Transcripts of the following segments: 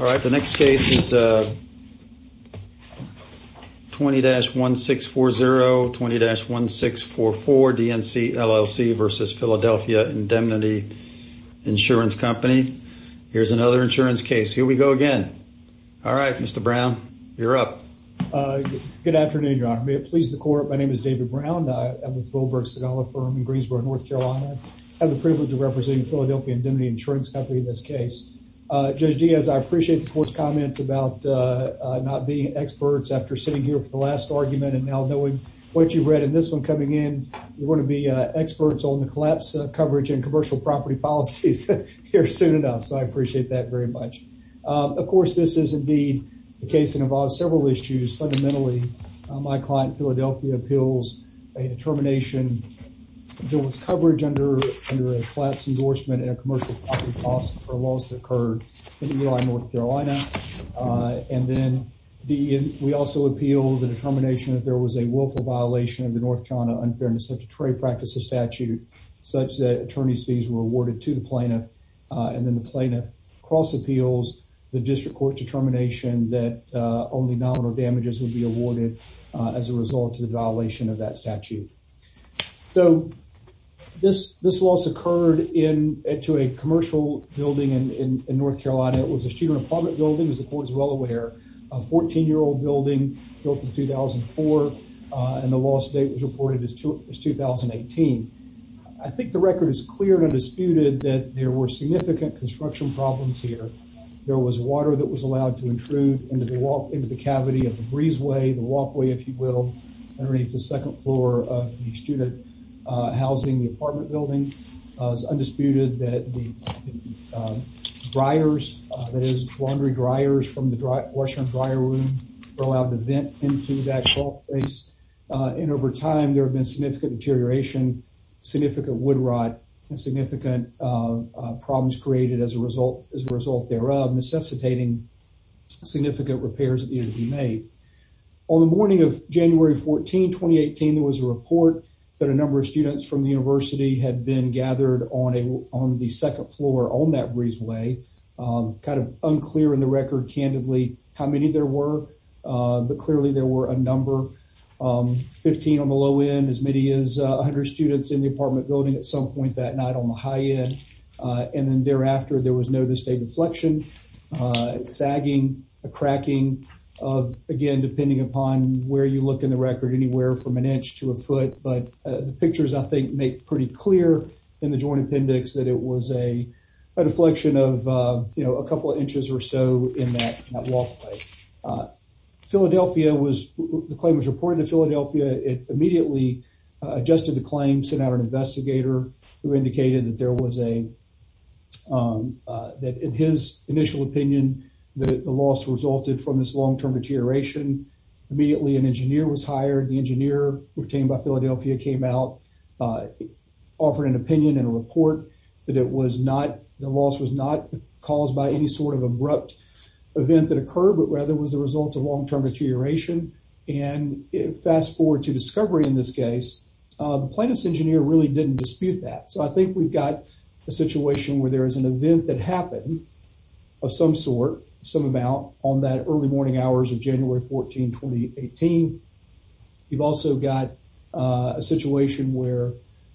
All right, the next case is 20-1640, 20-1644 DENC, LLC v. Philadelphia Indemnity Insurance Company. Here's another insurance case. Here we go again. All right, Mr. Brown, you're up. Good afternoon, Your Honor. May it please the Court, my name is David Brown. I'm with Wilbur Sagala Firm in Greensboro, North Carolina. I have the privilege of representing Philadelphia Indemnity Insurance Company in this case. Judge Diaz, I appreciate the Court's comments about not being experts after sitting here for the last argument and now knowing what you've read in this one coming in. We're going to be experts on the collapse coverage and commercial property policies here soon enough, so I appreciate that very much. Of course, this is indeed a case that involves several issues. Fundamentally, my client, Philadelphia, appeals a determination there was coverage under a collapse endorsement and a commercial property policy for a loss that occurred in Eli, North Carolina. We also appeal the determination that there was a willful violation of the North Carolina Unfairness Secretary Practices Statute, such that attorney's fees were awarded to the plaintiff. Then the plaintiff cross-appeals the District Court's determination that only nominal damages would be awarded as a result of the violation of that statute. This loss occurred to a commercial building in North Carolina. It was a student apartment building, as the Court is well aware. A 14-year-old building built in 2004, and the loss date was reported as 2018. I think the record is clear and undisputed that there were significant construction problems here. There was water that was allowed to intrude into the cavity of the breezeway, the walkway, if you will, underneath the second floor of the housing, the apartment building. It's undisputed that the dryers, that is laundry dryers from the washer and dryer room, were allowed to vent into that call place. And over time, there have been significant deterioration, significant wood rot, and significant problems created as a result thereof, necessitating significant repairs that needed to be made. On the morning of January 14, 2018, there was a report that a number of students from the University had been gathered on the second floor on that breezeway. Kind of unclear in the record, candidly, how many there were, but clearly there were a number. Fifteen on the low end, as many as 100 students in the apartment building at some point that night on the high end. And then thereafter, there was no distinct inflection. It's sagging, a cracking, again, depending upon where you look in the from an inch to a foot. But the pictures, I think, make pretty clear in the joint appendix that it was a deflection of, you know, a couple of inches or so in that walkway. Philadelphia was, the claim was reported to Philadelphia. It immediately adjusted the claim, sent out an investigator who indicated that there was a, that in his initial opinion, that the loss resulted from this long-term deterioration. Immediately, an engineer was hired. The engineer retained by Philadelphia came out, offered an opinion and a report that it was not, the loss was not caused by any sort of abrupt event that occurred, but rather was the result of long-term deterioration. And fast forward to discovery in this case, the plaintiff's engineer really didn't dispute that. So, I think we've got a situation where there is an event that happened of some sort, some amount, on that early morning hours of January 14, 2018. You've also got a situation where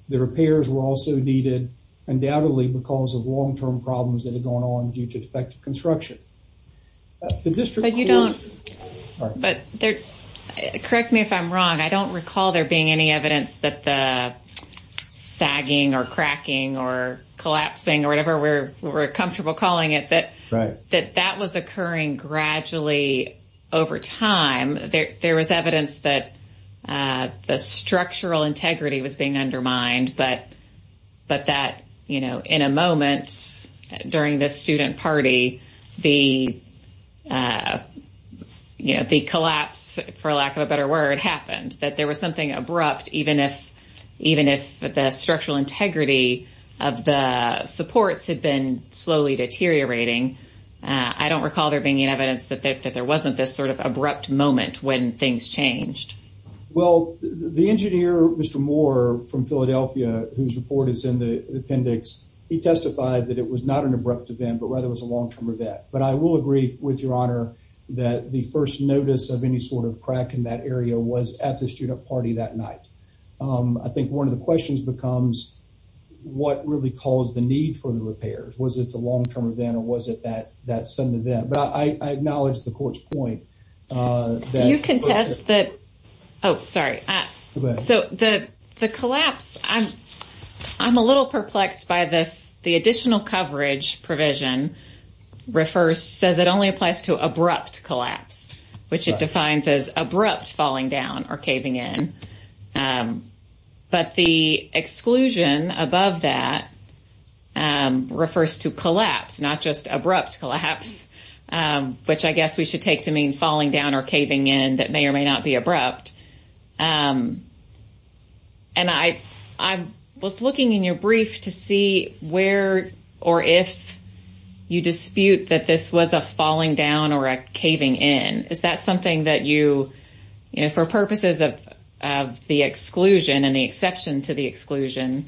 the repairs were also needed, undoubtedly, because of long-term problems that had gone on due to defective construction. The district... But you don't... All right. But there, correct me if I'm wrong, I don't recall there being any evidence that the sagging or cracking or collapsing or whatever we're comfortable calling it, that that was occurring gradually over time. There was evidence that the structural integrity was being undermined, but that, you know, in a moment during this student party, the, you know, the collapse, for lack of a better word, happened, that there was something abrupt, even if the structural integrity of the supports had been slowly deteriorating. I don't recall there being any evidence that there wasn't this sort of abrupt moment when things changed. Well, the engineer, Mr. Moore, from Philadelphia, whose report is in the appendix, he testified that it was not an abrupt event, but rather it was a long-term event. But I will agree with your honor that the first notice of any sort of crack in that area was at the student party that night. I think one of the questions becomes, what really caused the need for the repairs? Was it the long-term event or was it that sudden event? But I acknowledge the court's point. Do you contest that... Oh, sorry. So the collapse, I'm a little perplexed by this. The additional coverage provision refers, says it only applies to abrupt collapse, which it defines as abrupt falling down or caving in. But the exclusion above that refers to collapse, not just abrupt collapse, which I guess we should take to mean falling down or caving in that may or may not be abrupt. And I was looking in your brief to see where or if you dispute that this was a falling down or a caving in. Is that something that you, you know, for purposes of the exclusion and the exception to the exclusion,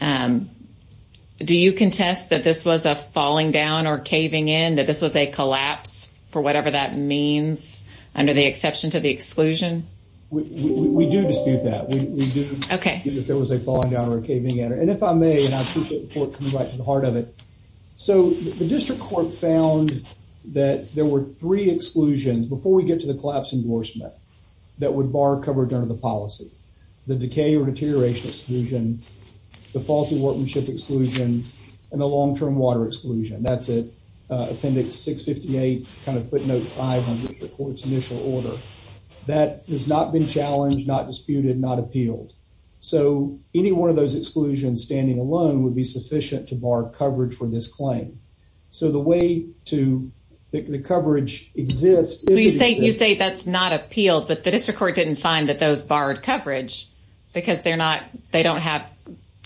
do you contest that this was a falling down or caving in, that this was a collapse for whatever that means under the exception to the exclusion? We do dispute that. We do dispute that there was a falling down or a caving in. And if I may, I appreciate the court coming right to the heart of it. So the district court found that there were three exclusions before we get to the collapse endorsement that would bar coverage under the policy. The decay or deterioration exclusion, the faulty workmanship exclusion, and the long-term water exclusion. That's it. Appendix 658, kind of footnote 500, which is the court's initial order. That has not been challenged, not disputed, not appealed. So any one of those exclusions standing alone would be sufficient to bar coverage for this claim. So the way to, the coverage exists. You say that's not appealed, but the district court didn't find that those barred coverage because they're not, they don't have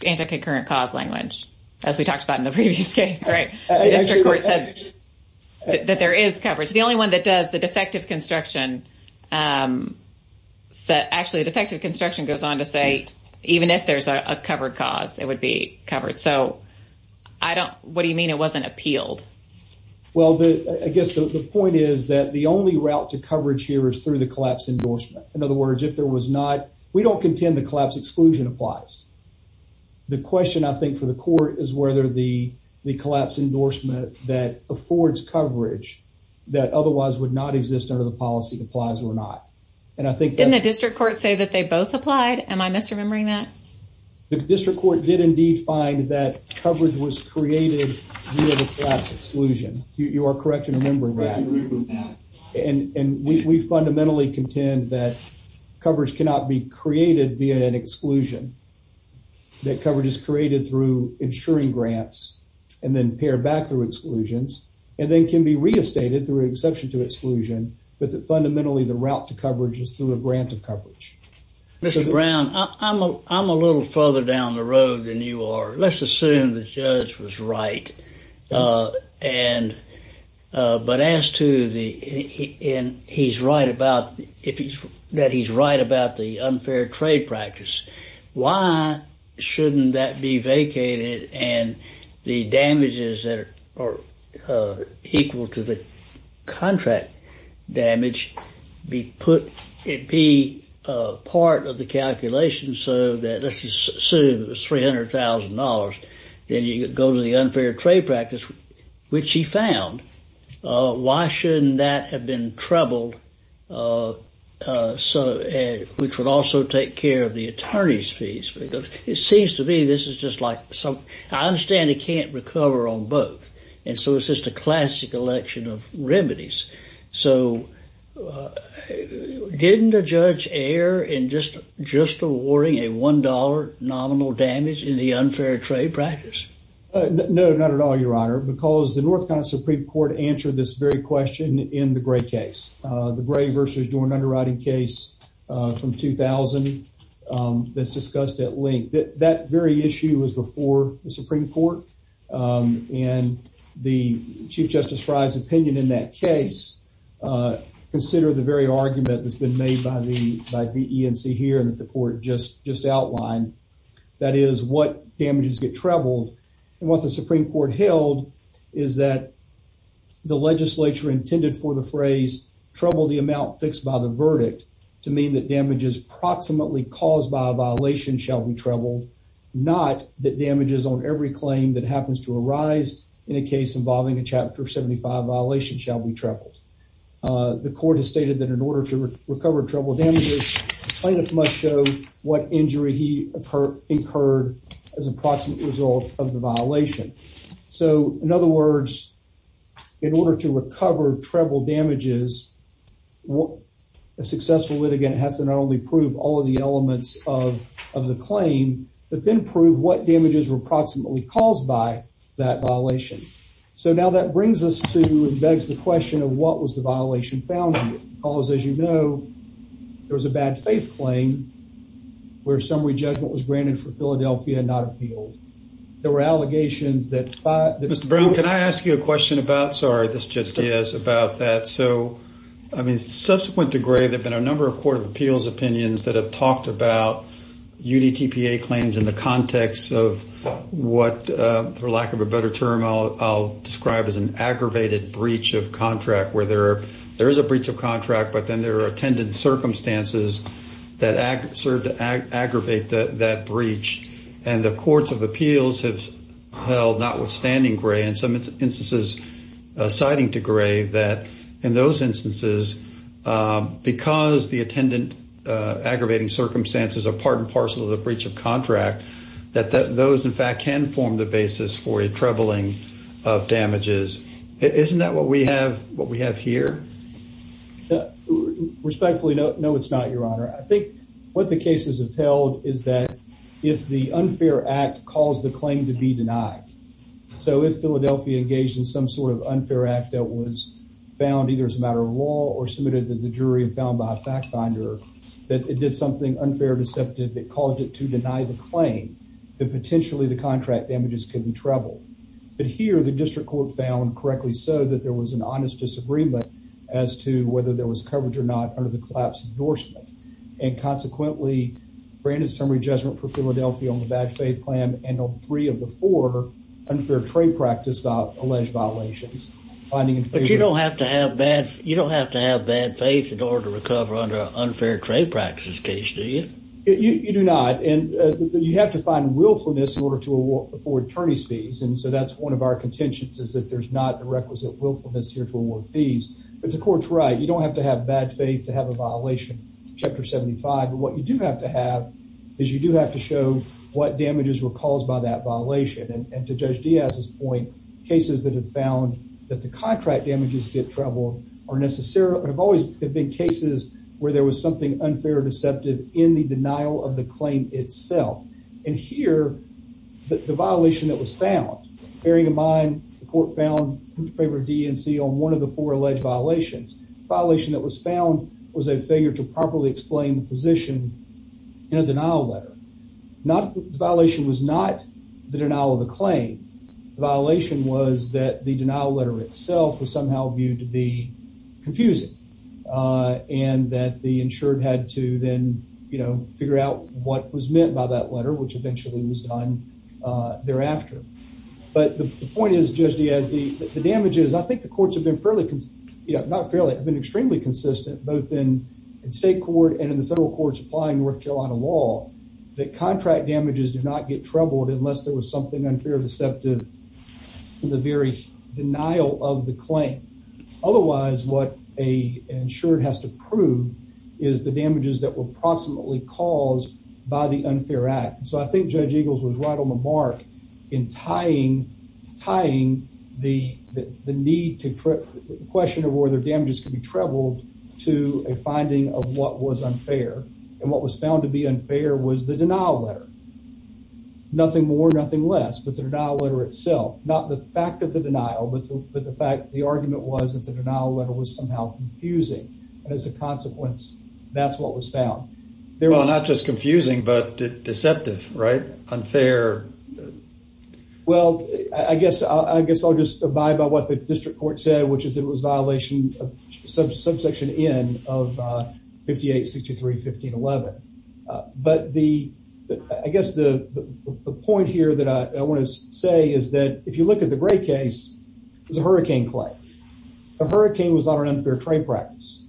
anti-concurrent cause language, as we talked about in the previous case, right? The district court said that there is coverage. The only one that does, the defective construction, actually the defective construction goes on to say even if there's a covered cause, it would be covered. So I don't, what do you mean it wasn't appealed? Well, I guess the point is that the only route to coverage here is through the collapse endorsement. In other words, if there was not, we don't contend the collapse exclusion applies. The question I think for the court is whether the collapse endorsement that affords coverage that otherwise would not exist under the policy applies or not. And I think- Didn't the district court say that they both applied? Am I misremembering that? The district court did indeed find that coverage was created via the collapse exclusion. You are correct in remembering that. And we fundamentally contend that coverage cannot be created via an exclusion. That coverage is created through insuring grants and then pared back through exclusions and then can be re-estated through exception to exclusion, but that fundamentally the route to coverage is through a grant of coverage. Mr. Brown, I'm a little further down the road than you are. Let's assume the judge was right. And, but as to the, and he's right about, if he's, that he's right about the unfair trade practice, why shouldn't that be vacated and the damages that are equal to the contract damage be put, it be part of the calculation so that let's assume it was $300,000. Then you go to the unfair trade practice, which he found. Why shouldn't that have been troubled? Uh, uh, so, uh, which would also take care of the attorney's fees because it seems to me, this is just like some, I understand it can't recover on both. And so it's just a classic election of remedies. So, uh, didn't the judge air in just, just awarding a $1 nominal damage in the unfair trade practice? Uh, no, not at all, your honor, because the North Carolina Supreme Court answered this very question in the gray case, uh, the gray versus do an underwriting case, uh, from 2000. Um, that's discussed at length that that very issue was before the Supreme Court. Um, and the chief justice Frye's opinion in that case, uh, consider the very argument that's been made by the, by the ENC here and that the court just, just outlined, that is what damages get troubled. And what the Supreme Court held is that the legislature intended for the phrase trouble the amount fixed by the verdict to mean that damages proximately caused by a violation shall be troubled, not that damages on every claim that happens to arise in a case involving a chapter 75 violation shall be troubled. Uh, the court has stated that in order to of the violation. So in other words, in order to recover treble damages, a successful litigant has to not only prove all of the elements of the claim, but then prove what damages were proximately caused by that violation. So now that brings us to and begs the question of what was the violation found in it? Because as you know, there was a bad faith claim where summary there were allegations that Mr. Brown, can I ask you a question about, sorry, this just is about that. So, I mean, subsequent to gray, there've been a number of court of appeals opinions that have talked about UDTPA claims in the context of what, uh, for lack of a better term, I'll, I'll describe as an aggravated breach of contract where there are, there is a breach of contract, but then there are attended circumstances that act served to aggravate that breach. And the courts of appeals have held not withstanding gray and some instances, uh, citing to gray that in those instances, um, because the attendant, uh, aggravating circumstances are part and parcel of the breach of contract that, that those in fact can form the basis for a troubling of damages. Isn't that what we have, what we have here respectfully? No, no, it's not I think what the cases have held is that if the unfair act calls the claim to be denied. So if Philadelphia engaged in some sort of unfair act that was found either as a matter of law or submitted to the jury and found by a fact finder, that it did something unfair deceptive that caused it to deny the claim that potentially the contract damages could be troubled. But here the district court found correctly so that there was an honest disagreement as to whether there was coverage or not under the collapse endorsement and consequently granted summary judgment for Philadelphia on the bad faith plan and on three of the four unfair trade practice about alleged violations. But you don't have to have bad, you don't have to have bad faith in order to recover under unfair trade practices case do you? You do not and you have to find willfulness in order to afford attorney's fees and so that's one of our contentions is that there's not the requisite willfulness here to award fees. But the court's right, you don't have to have bad faith to have a violation chapter 75 but what you do have to have is you do have to show what damages were caused by that violation and to judge Diaz's point cases that have found that the contract damages get troubled are necessarily have always have been cases where there was something unfair deceptive in the denial of the claim itself. And here the violation that was found bearing in mind the court found in favor of DNC on one of the four alleged violations. The violation that was found was a failure to properly explain the position in a denial letter. Not the violation was not the denial of the claim. The violation was that the denial letter itself was somehow viewed to be confusing and that the insured had to then you know figure out what was meant by that letter which eventually was done thereafter. But the point is Judge Diaz the the damages I think the courts have been fairly you know not fairly have been extremely consistent both in in state court and in the federal courts applying North Carolina law that contract damages do not get troubled unless there was something unfair deceptive in the very denial of the claim. Otherwise what a insured has to prove is the damages that were approximately caused by the unfair act. So I think Judge Eagles was right on the mark in tying tying the the need to question of whether damages can be troubled to a finding of what was unfair and what was found to be unfair was the denial letter. Nothing more nothing less but the denial letter itself. Not the fact of the denial but the fact the argument was that the denial letter was somehow confusing and as a consequence that's what was found. Well not just confusing but deceptive right unfair. Well I guess I guess I'll just abide by what the district court said which is it was violation subsection n of 58 63 15 11. But the I guess the the point here that I want to say is that if you look at the gray case it was a hurricane claim. A hurricane was not an unfair trade practice.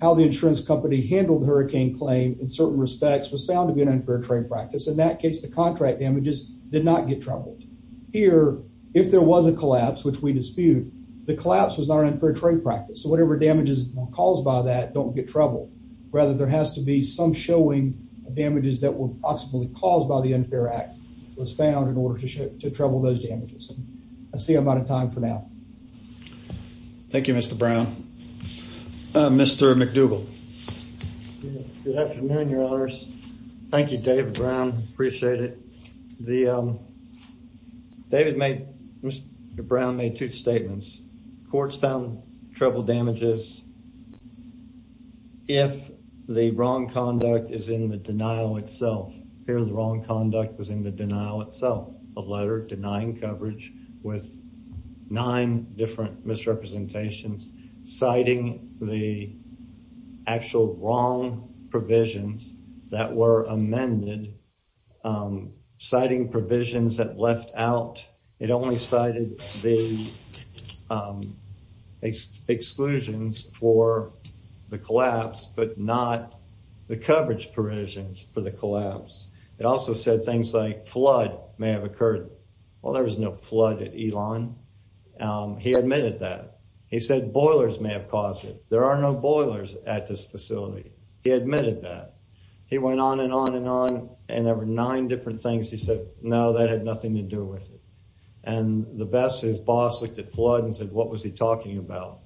How the insurance company handled the hurricane claim in certain respects was found to be an unfair trade practice. In that case the contract damages did not get troubled. Here if there was a collapse which we dispute the collapse was not an unfair trade practice. So whatever damages caused by that don't get troubled. Rather there has to be some showing of damages that were possibly caused by the unfair act was found in order to trouble those damages. I see I'm out of time for now. Thank you Mr. Brown. Mr. McDougall. Good afternoon your honors. Thank you David Brown. Appreciate it. The David made Mr. Brown made two statements. Courts found trouble damages if the wrong conduct is in the denial itself. Here the wrong conduct was in the denial itself. A letter denying coverage with nine different misrepresentations citing the actual wrong provisions that were amended. Citing provisions that left out. It only cited the it's exclusions for the collapse but not the coverage provisions for the collapse. It also said things like flood may have occurred. Well there was no flood at Elon. He admitted that. He said boilers may have caused it. There are no boilers at this facility. He admitted that. He went on and on and on and there were nine different things he said no that had nothing to do with what he was talking about.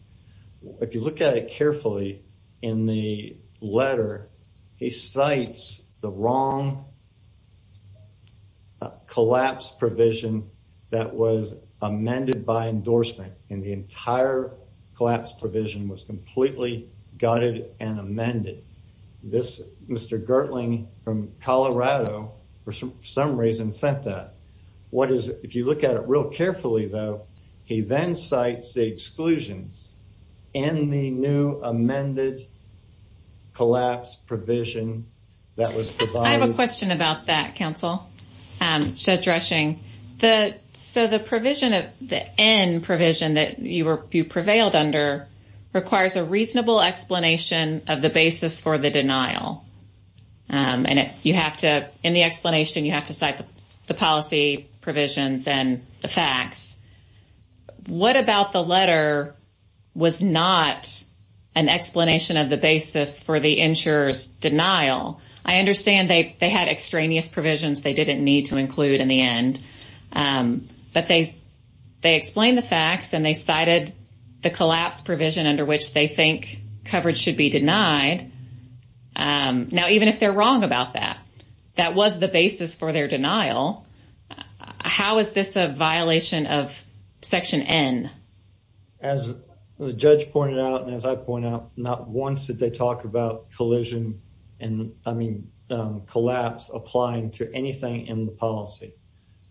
If you look at it carefully in the letter he cites the wrong collapse provision that was amended by endorsement and the entire collapse provision was completely gutted and amended. This Mr. Gertling from Colorado for some reason sent that. What is if you look at it real carefully though he then cites the exclusions and the new amended collapse provision that was provided. I have a question about that counsel. So the provision of the end provision that you were you prevailed under requires a reasonable explanation of the basis for the denial and you have to in the explanation you have to cite the policy provisions and the facts. What about the letter was not an explanation of the basis for the insurer's denial? I understand they had extraneous provisions they didn't need to include in the end but they explain the facts and they cited the collapse provision under which they think coverage should be denied. Now even if they're wrong about that, that was the basis for their denial. How is this a violation of section n? As the judge pointed out and as I point out not once did they talk about collision and I mean collapse applying to anything in the policy.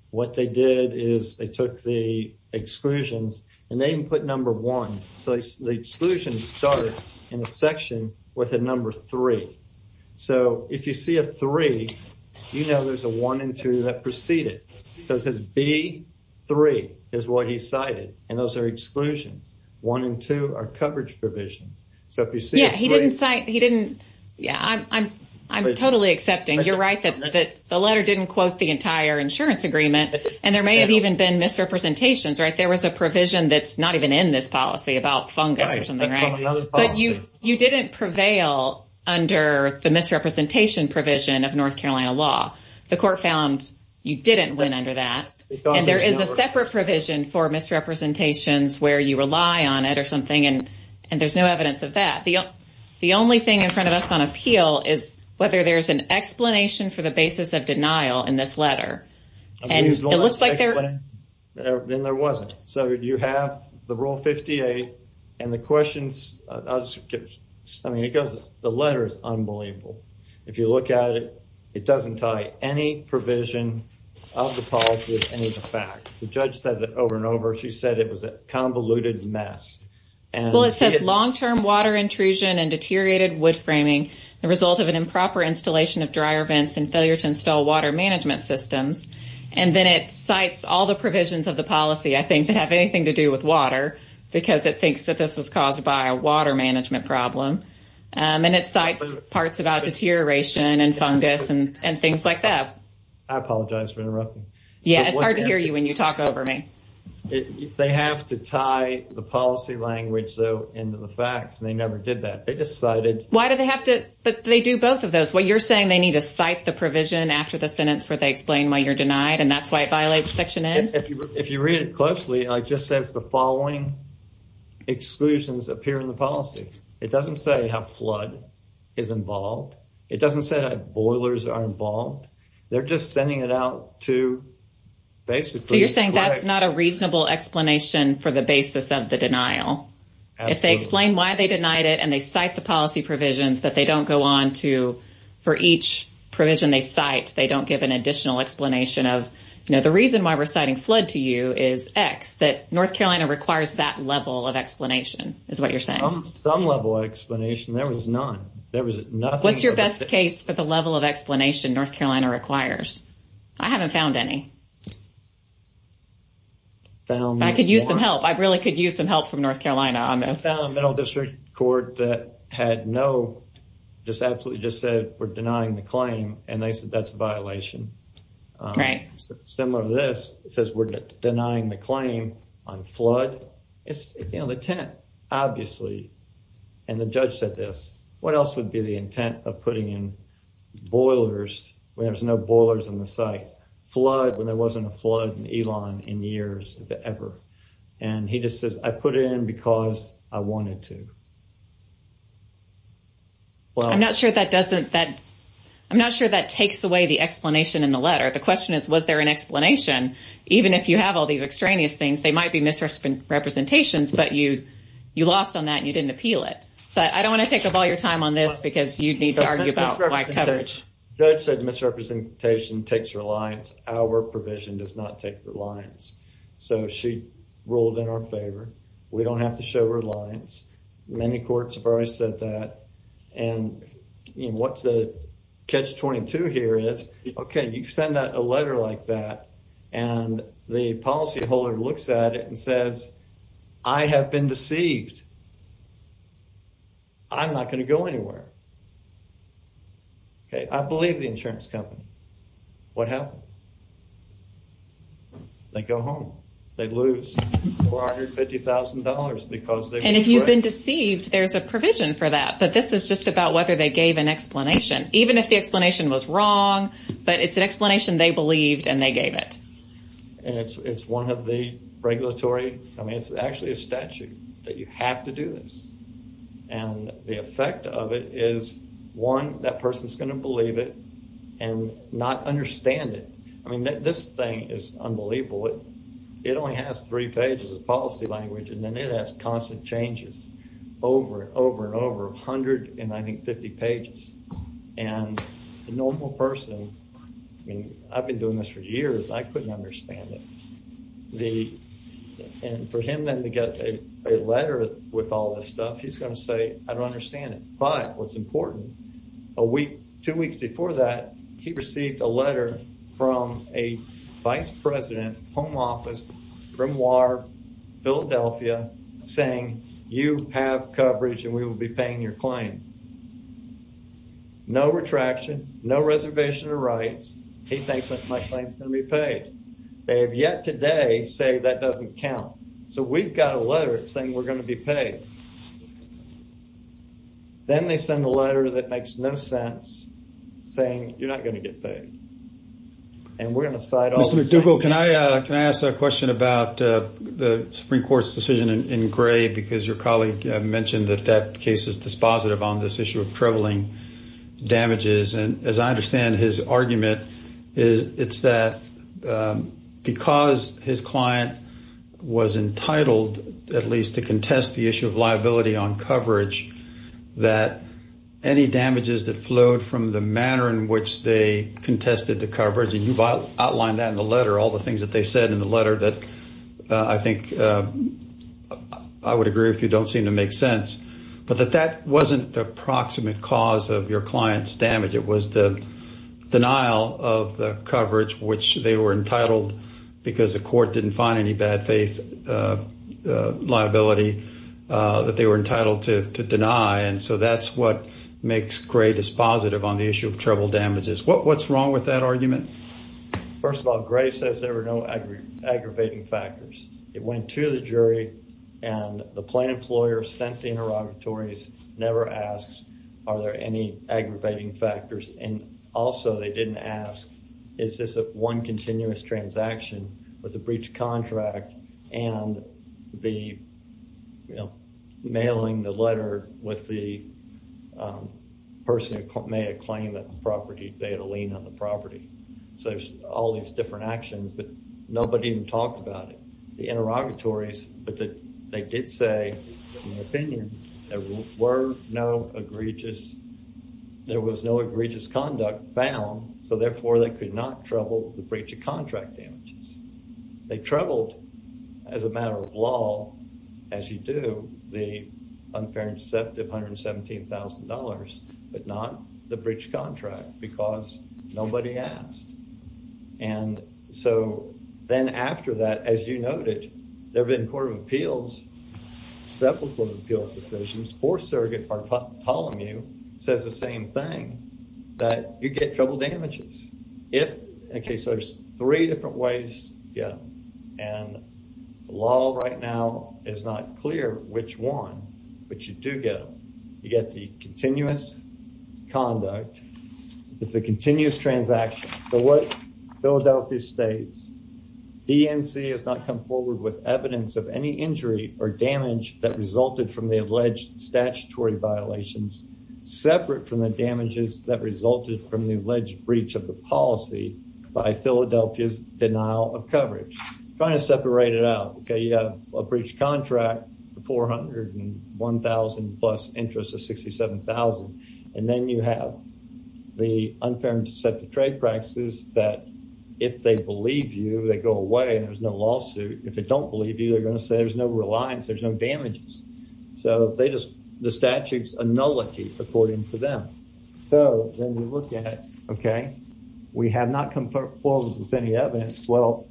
What they did is they took the exclusions and they even put number one so the exclusion started in a section with a number three. So if you see a three you know there's a one and two that preceded so it says b three is what he cited and those are exclusions one and two are coverage provisions. So if you see yeah he didn't cite he didn't yeah I'm totally accepting you're right that the letter didn't quote the entire insurance agreement and there may have even been misrepresentations right there was a provision that's not even in this policy about fungus or but you you didn't prevail under the misrepresentation provision of North Carolina law. The court found you didn't win under that and there is a separate provision for misrepresentations where you rely on it or something and and there's no evidence of that. The only thing in front of us on appeal is whether there's an explanation for the basis of denial in this letter and it looks like there then there wasn't so you have the rule 58 and the questions I mean it goes the letter is unbelievable if you look at it it doesn't tie any provision of the policy with any of the facts. The judge said that over and over she said it was a convoluted mess and well it says long-term water intrusion and deteriorated wood framing the result of an and then it cites all the provisions of the policy I think that have anything to do with water because it thinks that this was caused by a water management problem and it cites parts about deterioration and fungus and and things like that. I apologize for interrupting. Yeah it's hard to hear you when you talk over me. They have to tie the policy language though into the facts and they never did that they just cited. Why do they have to but they do both of those what you're citing the provision after the sentence where they explain why you're denied and that's why it violates section n. If you read it closely it just says the following exclusions appear in the policy it doesn't say how flood is involved it doesn't say that boilers are involved they're just sending it out to basically you're saying that's not a reasonable explanation for the basis of the denial if they explain why they denied it and they cite the policy provisions that they don't go on to for each provision they cite they don't give an additional explanation of you know the reason why we're citing flood to you is x that North Carolina requires that level of explanation is what you're saying some level explanation there was none there was nothing what's your best case for the level of explanation North Carolina requires I haven't found any found I could use some help I really could use some help from North Carolina on this court that had no just absolutely just said we're denying the claim and they said that's a violation right similar to this it says we're denying the claim on flood it's you know the tenant obviously and the judge said this what else would be the intent of putting in boilers when there's no boilers in the site flood when there wasn't a flood in Elon in years ever and he just says I put it in because I wanted to well I'm not sure that doesn't that I'm not sure that takes away the explanation in the letter the question is was there an explanation even if you have all these extraneous things they might be misrepresentations but you you lost on that you didn't appeal it but I don't want to take up all your time on this because you'd need to argue about my coverage judge said misrepresentation takes reliance our provision does not take reliance so she ruled in our favor we don't have to show reliance many courts have already said that and you know what's the catch-22 here is okay you send out a letter like that and the policy holder looks at it and says I have been deceived I'm not going to go anywhere okay I believe the insurance company what happens they go home they lose $450,000 because they and if you've been deceived there's a provision for that but this is just about whether they gave an explanation even if the explanation was wrong but it's an explanation they believed and they gave it and it's it's one of the regulatory I mean it's actually a statute that you have to do this and the effect of it is one that person's going to believe it and not understand it I mean this thing is unbelievable it it only has three pages of policy language and then it has constant changes over and over and over 150 pages and the normal person I mean I've been doing this for years I couldn't understand it the and for him then to get a letter with all this stuff he's going to say I don't understand it but what's important a week two weeks before that he received a letter from a vice president home office grimoire philadelphia saying you have coverage and we will be paying your claim no retraction no reservation of rights he thinks that my claim is going to be paid they have yet today say that doesn't count so we've got a letter saying we're going to be paid then they send a letter that makes no sense saying you're not going to get paid and we're going to cite mr dugo can I uh can I ask a question about uh the supreme court's decision in gray because your colleague mentioned that that case is dispositive on this issue of um because his client was entitled at least to contest the issue of liability on coverage that any damages that flowed from the manner in which they contested the coverage and you've outlined that in the letter all the things that they said in the letter that I think I would agree with you don't seem to make sense but that that wasn't the approximate cause of your client's damage it was the denial of the coverage which they were entitled because the court didn't find any bad faith uh liability uh that they were entitled to to deny and so that's what makes gray dispositive on the issue of treble damages what what's wrong with that argument first of all gray says there were no aggravating factors it went to the jury and the plain lawyer sent the interrogatories never asks are there any aggravating factors and also they didn't ask is this a one continuous transaction with a breach contract and the you know mailing the letter with the person who made a claim that the property they had a lien on the property so there's all these different actions but nobody even talked about it the interrogatories but that they did say in my opinion there were no egregious there was no egregious conduct found so therefore they could not trouble the breach of contract damages they troubled as a matter of law as you do the unfair and deceptive 117 000 but not the breach contract because nobody asked and so then after that as you noted there have been court of appeals several court of appeals decisions for surrogate for polamu says the same thing that you get trouble damages if in case there's three different ways yeah and the law right now is not clear which one but you do get them you get the continuous conduct it's a continuous transaction so what philadelphia states dnc has not come forward with evidence of any injury or damage that resulted from the alleged statutory violations separate from the damages that resulted from the alleged breach of the policy by philadelphia's denial of coverage trying to separate it out okay you have a breach contract the 401 000 plus interest of 67 000 and then you have the unfair and deceptive trade practices that if they believe you they go away and there's no lawsuit if they don't believe you they're going to say there's no reliance there's no damages so they just the statute's a nullity according to them so then you look at it okay we have not come forward with any evidence well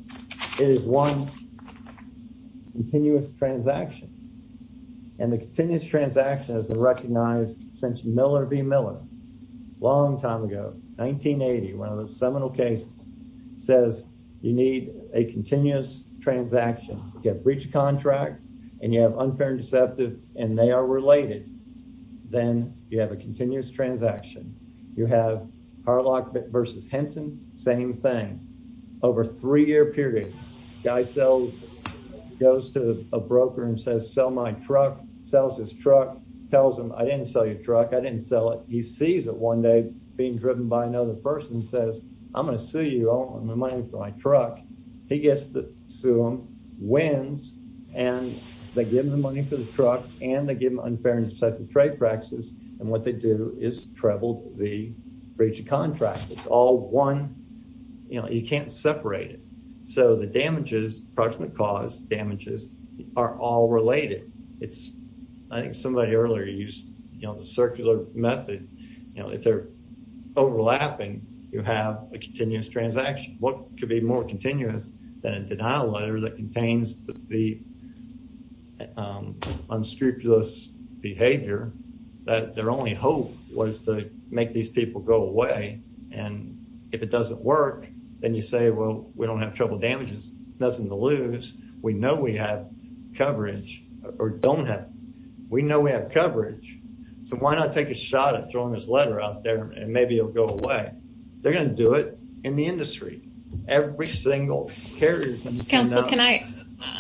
it is one continuous transaction and the continuous transaction has been recognized since miller v miller long time ago 1980 one of the seminal cases says you need a continuous transaction you have breach of contract and you have unfair and deceptive and they are related then you have a continuous transaction you have harlock versus henson same thing over three year period guy sells goes to a broker and says sell my truck sells his truck tells him i didn't sell your truck i didn't sell it he sees it one day being driven by another person says i'm going to sue you all my money for my truck he gets to sue him wins and they give him the money for the truck and they give him unfair and deceptive trade practices and what they do is treble the breach of contract it's all one you know you can't separate it so the damages approximate cause damages are all related it's i think somebody earlier used you know the circular method you know if they're overlapping you have a continuous transaction what could be more continuous than a denial letter that contains the unscrupulous behavior that their only hope was to make these people go away and if it doesn't work then you say well we don't have trouble damages nothing to lose we know we have coverage or don't have we know we have coverage so why not take a shot at throwing this letter out there and maybe it'll go away they're going to do it in the industry every single carrier council can i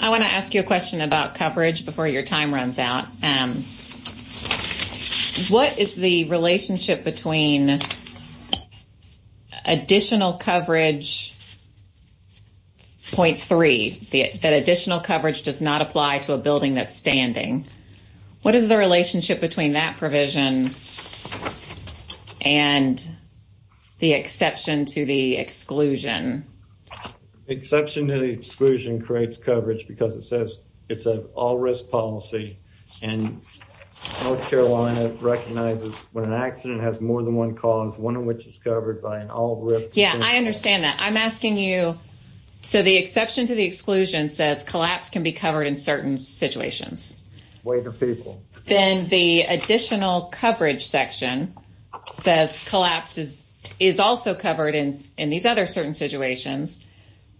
i want to ask you a question about coverage before your time runs out um what is the relationship between additional coverage point three the that additional coverage does not apply to a building that's standing what is the relationship between that provision and the exception to the exclusion exception to the exclusion creates coverage because it says it's an all risk policy and north carolina recognizes when an accident has more than one cause one of which is covered by an all risk yeah i understand that i'm asking you so the exception to the exclusion says collapse can be covered in certain situations way to people then the additional coverage section says collapses is also covered in these other certain situations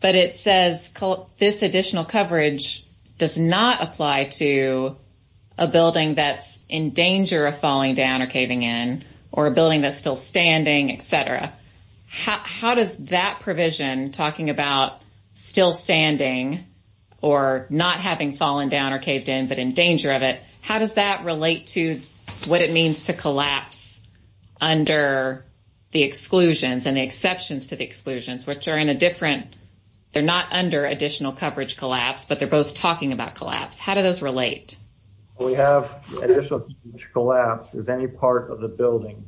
but it says this additional coverage does not apply to a building that's in danger of falling down or caving in or a building that's still standing etc how does that provision talking about still standing or not having fallen down or caved in but in danger of it how does that relate to what it means to collapse under the exclusions and exceptions to the exclusions which are in a different they're not under additional coverage collapse but they're both talking about collapse how do those relate we have additional collapse is any part of the building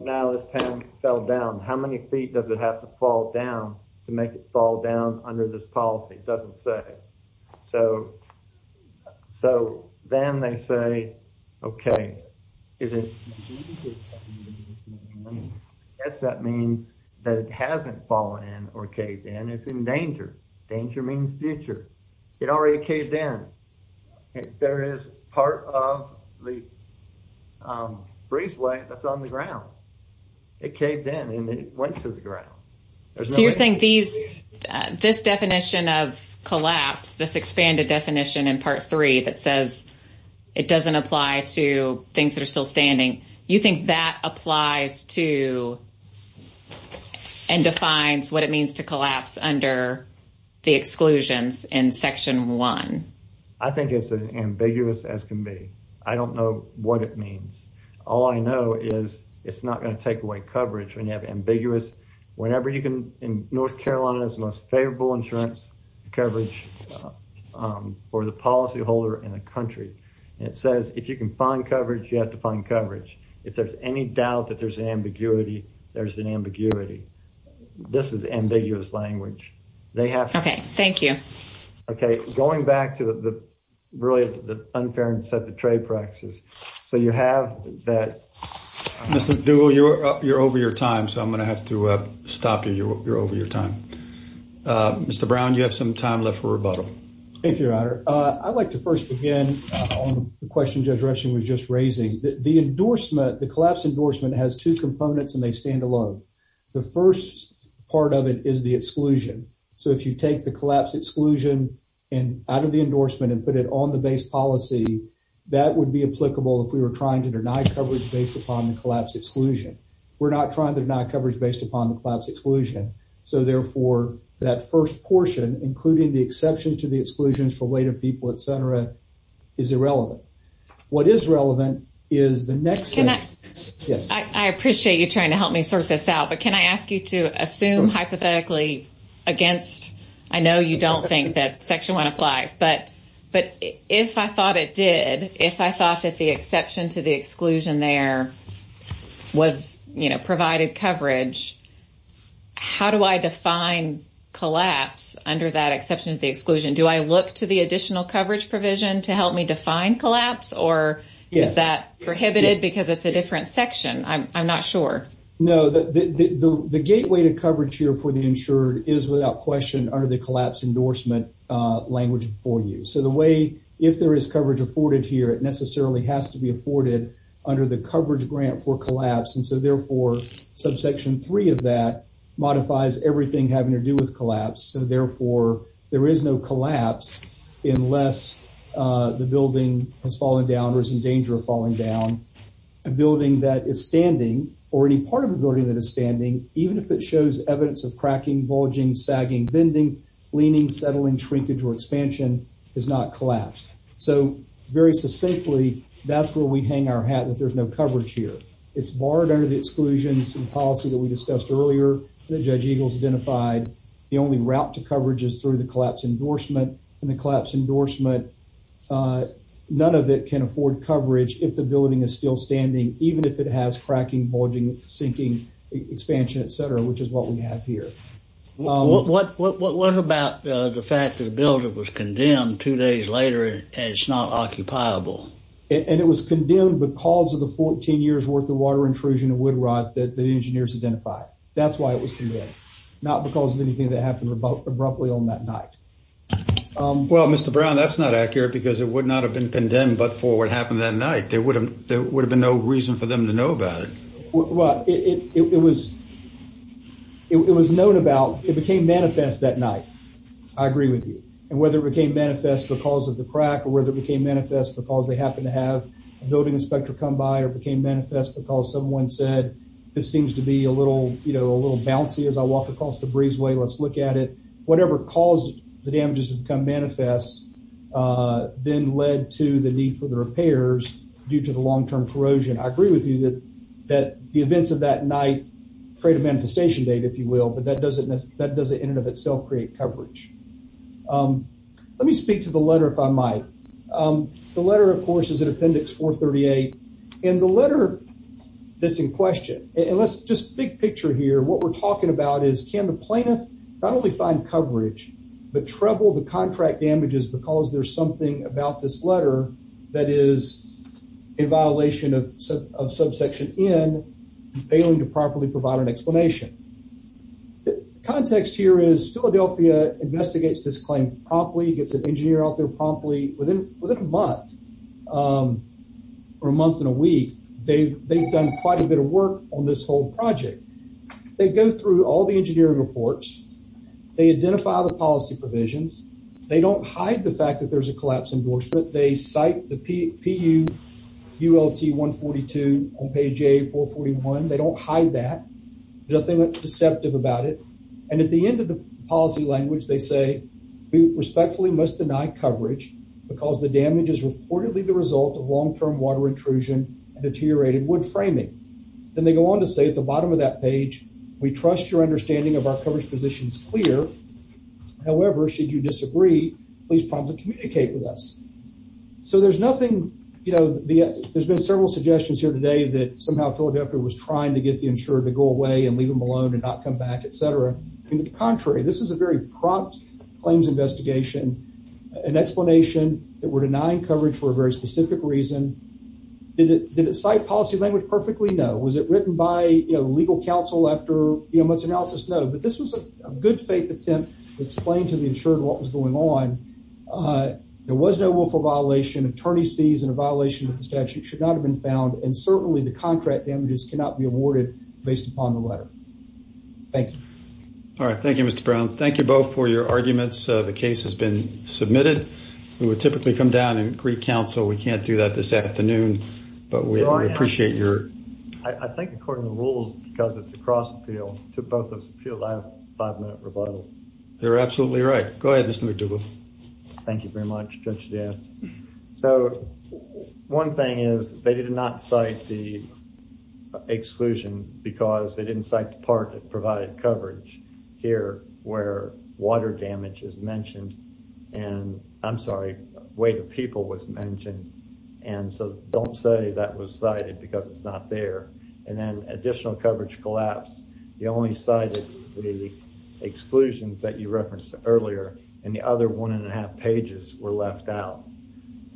now this panel fell down how many feet does it have to fall down to make it fall down under this policy doesn't say so so then they say okay is it yes that means that it hasn't fallen in or caved in it's in danger danger means future it already caved in there is part of the breezeway that's on the ground it caved in and it went to the ground so you're saying these this definition of collapse this expanded definition in part three that says it doesn't apply to things that are still standing you think that applies to and defines what it means to collapse under the exclusions in section one i think it's an ambiguous as can be i don't know what it means all i know is it's not going to take away coverage when you have ambiguous whenever you can in north carolina's most favorable insurance coverage for the policyholder in a country it says if you can find coverage you have to find coverage if there's any doubt that there's an ambiguity there's an ambiguity this is ambiguous language they have okay thank you okay going back to the really the unfairness of the trade practices so you have that mr dual you're up you're over your time so i'm gonna have to uh stop you you're over your time uh mr brown you have some time left for the endorsement the collapse endorsement has two components and they stand alone the first part of it is the exclusion so if you take the collapse exclusion and out of the endorsement and put it on the base policy that would be applicable if we were trying to deny coverage based upon the collapse exclusion we're not trying to deny coverage based upon the collapse exclusion so therefore that first portion including the exception to the exclusions for people at center is irrelevant what is relevant is the next yes i appreciate you trying to help me sort this out but can i ask you to assume hypothetically against i know you don't think that section one applies but but if i thought it did if i thought that the exception to the exclusion there was you know provided coverage how do i define collapse under that exception do i look to the additional coverage provision to help me define collapse or is that prohibited because it's a different section i'm not sure no the the the gateway to coverage here for the insured is without question under the collapse endorsement uh language before you so the way if there is coverage afforded here it necessarily has to be afforded under the coverage grant for collapse and so therefore subsection three of that modifies everything having to do with collapse so therefore there is no collapse unless the building has fallen down or is in danger of falling down a building that is standing or any part of the building that is standing even if it shows evidence of cracking bulging sagging bending leaning settling shrinkage or expansion is not collapsed so very succinctly that's where we hang our hat that there's no coverage here it's borrowed under the exclusions and policy that we discussed earlier that judge eagles identified the only route to coverage is through the collapse endorsement and the collapse endorsement uh none of it can afford coverage if the building is still standing even if it has cracking bulging sinking expansion etc which is what we have here what what what about the fact that the builder was condemned two days later and it's not occupiable and it was condemned because of the 14 years worth of water intrusion and wood rot that the engineers identified that's why it was condemned not because of anything that happened abruptly on that night um well mr brown that's not accurate because it would not have been condemned but for what happened that night there would have there would have been no reason for them to know about it well it it was it was known about it became manifest that night i agree with you and whether it became manifest because of the crack or whether it became manifest because they this seems to be a little you know a little bouncy as i walk across the breezeway let's look at it whatever caused the damages to become manifest uh then led to the need for the repairs due to the long-term corrosion i agree with you that that the events of that night create a manifestation date if you will but that doesn't that doesn't in and of itself create coverage um let me speak to the letter if i might um the letter of course is an appendix 438 and the letter that's in question and let's just big picture here what we're talking about is can the plaintiff not only find coverage but trouble the contract damages because there's something about this letter that is a violation of subsection n failing to properly provide an explanation the context here is philadelphia investigates this claim promptly gets an engineer out there promptly within within a month um or a month and a week they've they've done quite a bit of work on this whole project they go through all the engineering reports they identify the policy provisions they don't hide the fact that there's a collapse endorsement they cite the p pu ult 142 on page a 441 they don't hide that there's nothing deceptive about it and at the end of the policy language they say we respectfully must deny coverage because the damage is reportedly the result of long-term water intrusion and deteriorated wood framing then they go on to say at the bottom of that page we trust your understanding of our coverage position is clear however should you disagree please promptly communicate with us so there's nothing you know the there's been several suggestions here today that somehow philadelphia was trying to get the insurer to go away and leave them alone and not come back etc and the contrary this is a very prompt claims investigation an explanation that we're denying coverage for a very specific reason did it did it cite policy language perfectly no was it written by you know legal counsel after you know much analysis no but this was a good faith attempt explain to the insurer what was going on uh there was no willful violation attorney's fees and a violation of the statute should not have been found and certainly the contract damages cannot be awarded based upon the letter thank you all right thank you mr brown thank you both for your arguments the case has been submitted we would typically come down in greek council we can't do that this afternoon but we appreciate your i think according to the rules because it's a cross appeal took both of us a few last five minute rebuttals they're absolutely right go ahead listen to them thank you very much judge yes so one thing is they did not cite the exclusion because they didn't cite the part that provided coverage here where water damage is mentioned and i'm sorry way the people was mentioned and so don't say that was cited because it's not there and then additional coverage collapse the only cited the exclusions that you referenced earlier and the other one and a half pages were left out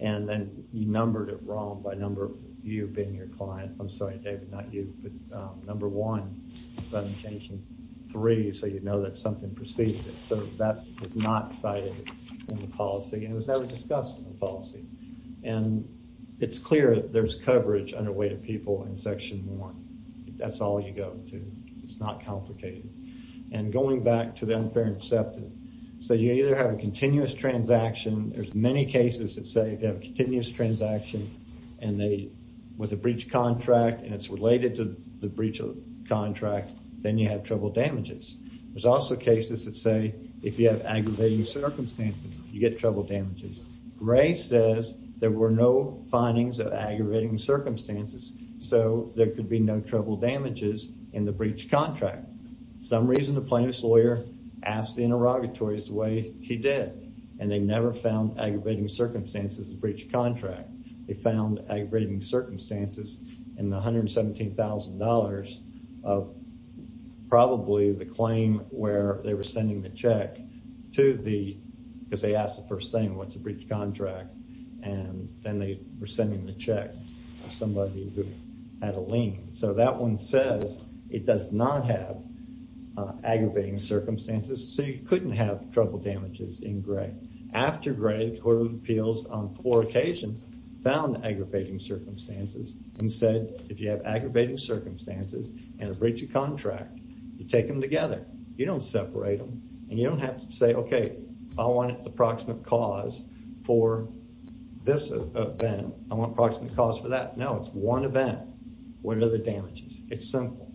and then you numbered it wrong by number you being your client i'm sorry david not you but um number one but i'm changing three so you know that something preceded it so that was not cited in the policy and it was never discussed in the that's all you go to it's not complicated and going back to the unfair inceptive so you either have a continuous transaction there's many cases that say they have a continuous transaction and they with a breach contract and it's related to the breach of contract then you have trouble damages there's also cases that say if you have aggravating circumstances you get trouble damages ray says there were no findings of aggravating circumstances so there could be no trouble damages in the breach contract some reason the plaintiff's lawyer asked the interrogatories the way he did and they never found aggravating circumstances the breach contract they found aggravating circumstances in the 117 000 of probably the claim where they were sending the to the because they asked the first thing what's a breach contract and then they were sending the check to somebody who had a lien so that one says it does not have aggravating circumstances so you couldn't have trouble damages in gray after gray who appeals on four occasions found aggravating circumstances and said if you have aggravating circumstances and a breach of contract you take together you don't separate them and you don't have to say okay i want an approximate cause for this event i want approximate cause for that no it's one event what are the damages it's simple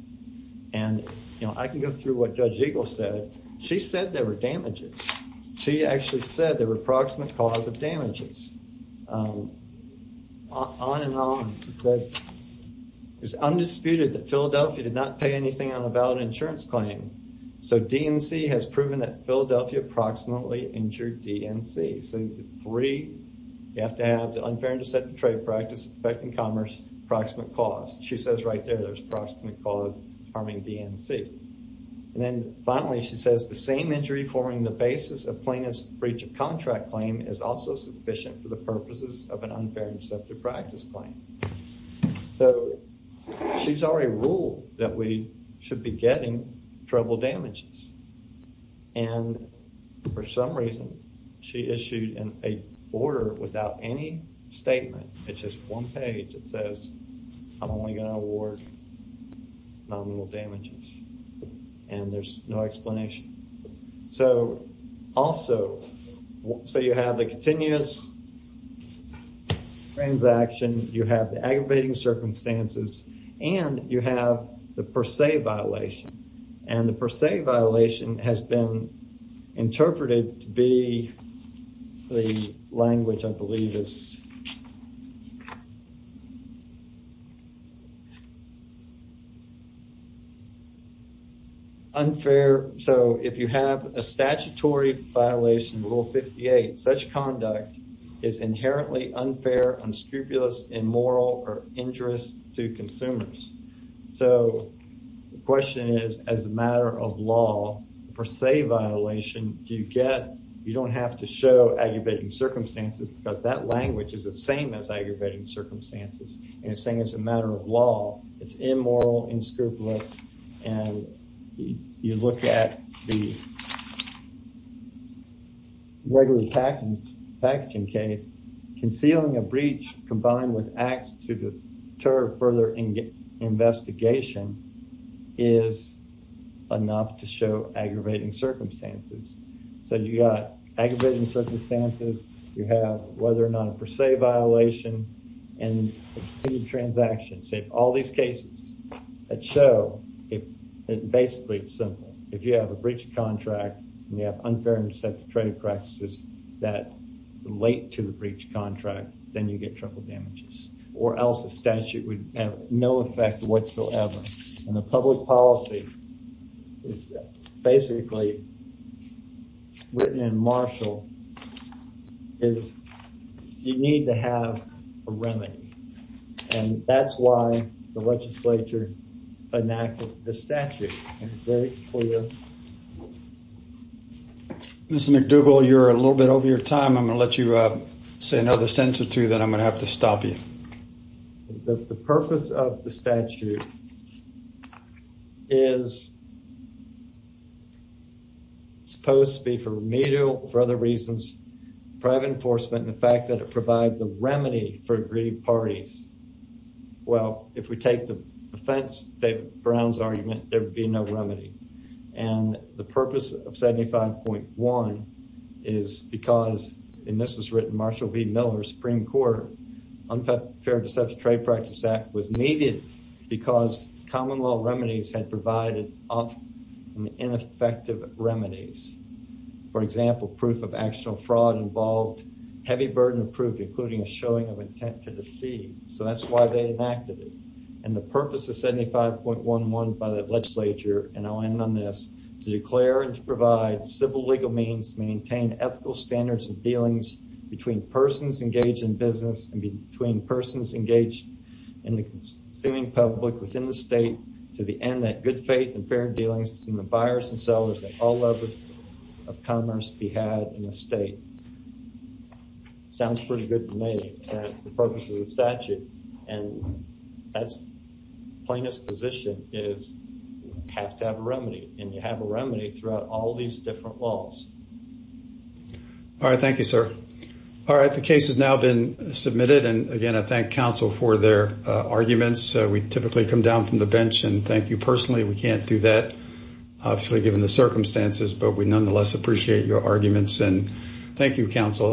and you know i can go through what judge eagle said she said there were damages she actually said there were approximate cause of damages um on and on he said it's undisputed that philadelphia did not pay anything on a valid insurance claim so dnc has proven that philadelphia approximately injured dnc so three you have to have the unfair and deceptive trade practice affecting commerce approximate cause she says right there there's approximate cause harming dnc and then finally she says the same injury forming the basis of plaintiff's breach of contract claim is also sufficient for the purposes of an unfair and deceptive practice claim so she's already ruled that we should be getting trouble damages and for some reason she issued an a order without any statement it's just one page it says i'm only going to award nominal damages and there's no yes transaction you have the aggravating circumstances and you have the per se violation and the per se violation has been interpreted to be the language i believe is unfair so if you have a statutory violation rule 58 such conduct is inherently unfair unscrupulous immoral or injurious to consumers so the question is as a matter of law per se violation do you get you don't have to show aggravating circumstances because that language is the same as aggravating circumstances and it's saying it's a matter of law it's immoral inscrupulous and you look at the regular packing packaging case concealing a breach combined with acts to deter further investigation is enough to show aggravating circumstances so you got aggravating circumstances you have whether or not a per se violation and the transactions if all these cases that show if basically it's simple if you have a breach of contract and you have unfair and deceptive trading practices that relate to the breach contract then you get trouble damages or else the statute would have no effect whatsoever and the public policy is basically written in marshal is you need to have a remedy and that's why the legislature enacted the statute and it's very clear Mr. McDougall you're a little bit over your time I'm going to let you say another sentence or two then I'm going to have to stop you the purpose of the statute is supposed to be for remedial for other reasons private enforcement and the fact that it provides a remedy for aggrieved parties well if we take the defense David Brown's argument there would be no remedy and the purpose of 75.1 is because and this is written Marshall v Miller Supreme Court unfair fair deceptive trade practice act was needed because common law remedies had provided up and ineffective remedies for example proof of actual fraud involved heavy burden of proof including a showing of intent to deceive so that's why they enacted it and the purpose of 75.11 by the legislature and I'll end on this to declare and to provide civil legal means maintain ethical standards and dealings between persons engaged in business and between persons engaged in the consuming public within the state to the end that good faith and fair dealings between the buyers and sellers that all levels of commerce be had in the state sounds pretty good to me that's the purpose of the statute and that's plaintiff's position is have to have a remedy and you have a remedy throughout all these different laws all right thank you sir all right the case has now been submitted and again I thank counsel for their arguments we typically come down from the bench and thank you personally we can't do that obviously given the circumstances but we nonetheless appreciate your arguments and thank you counsel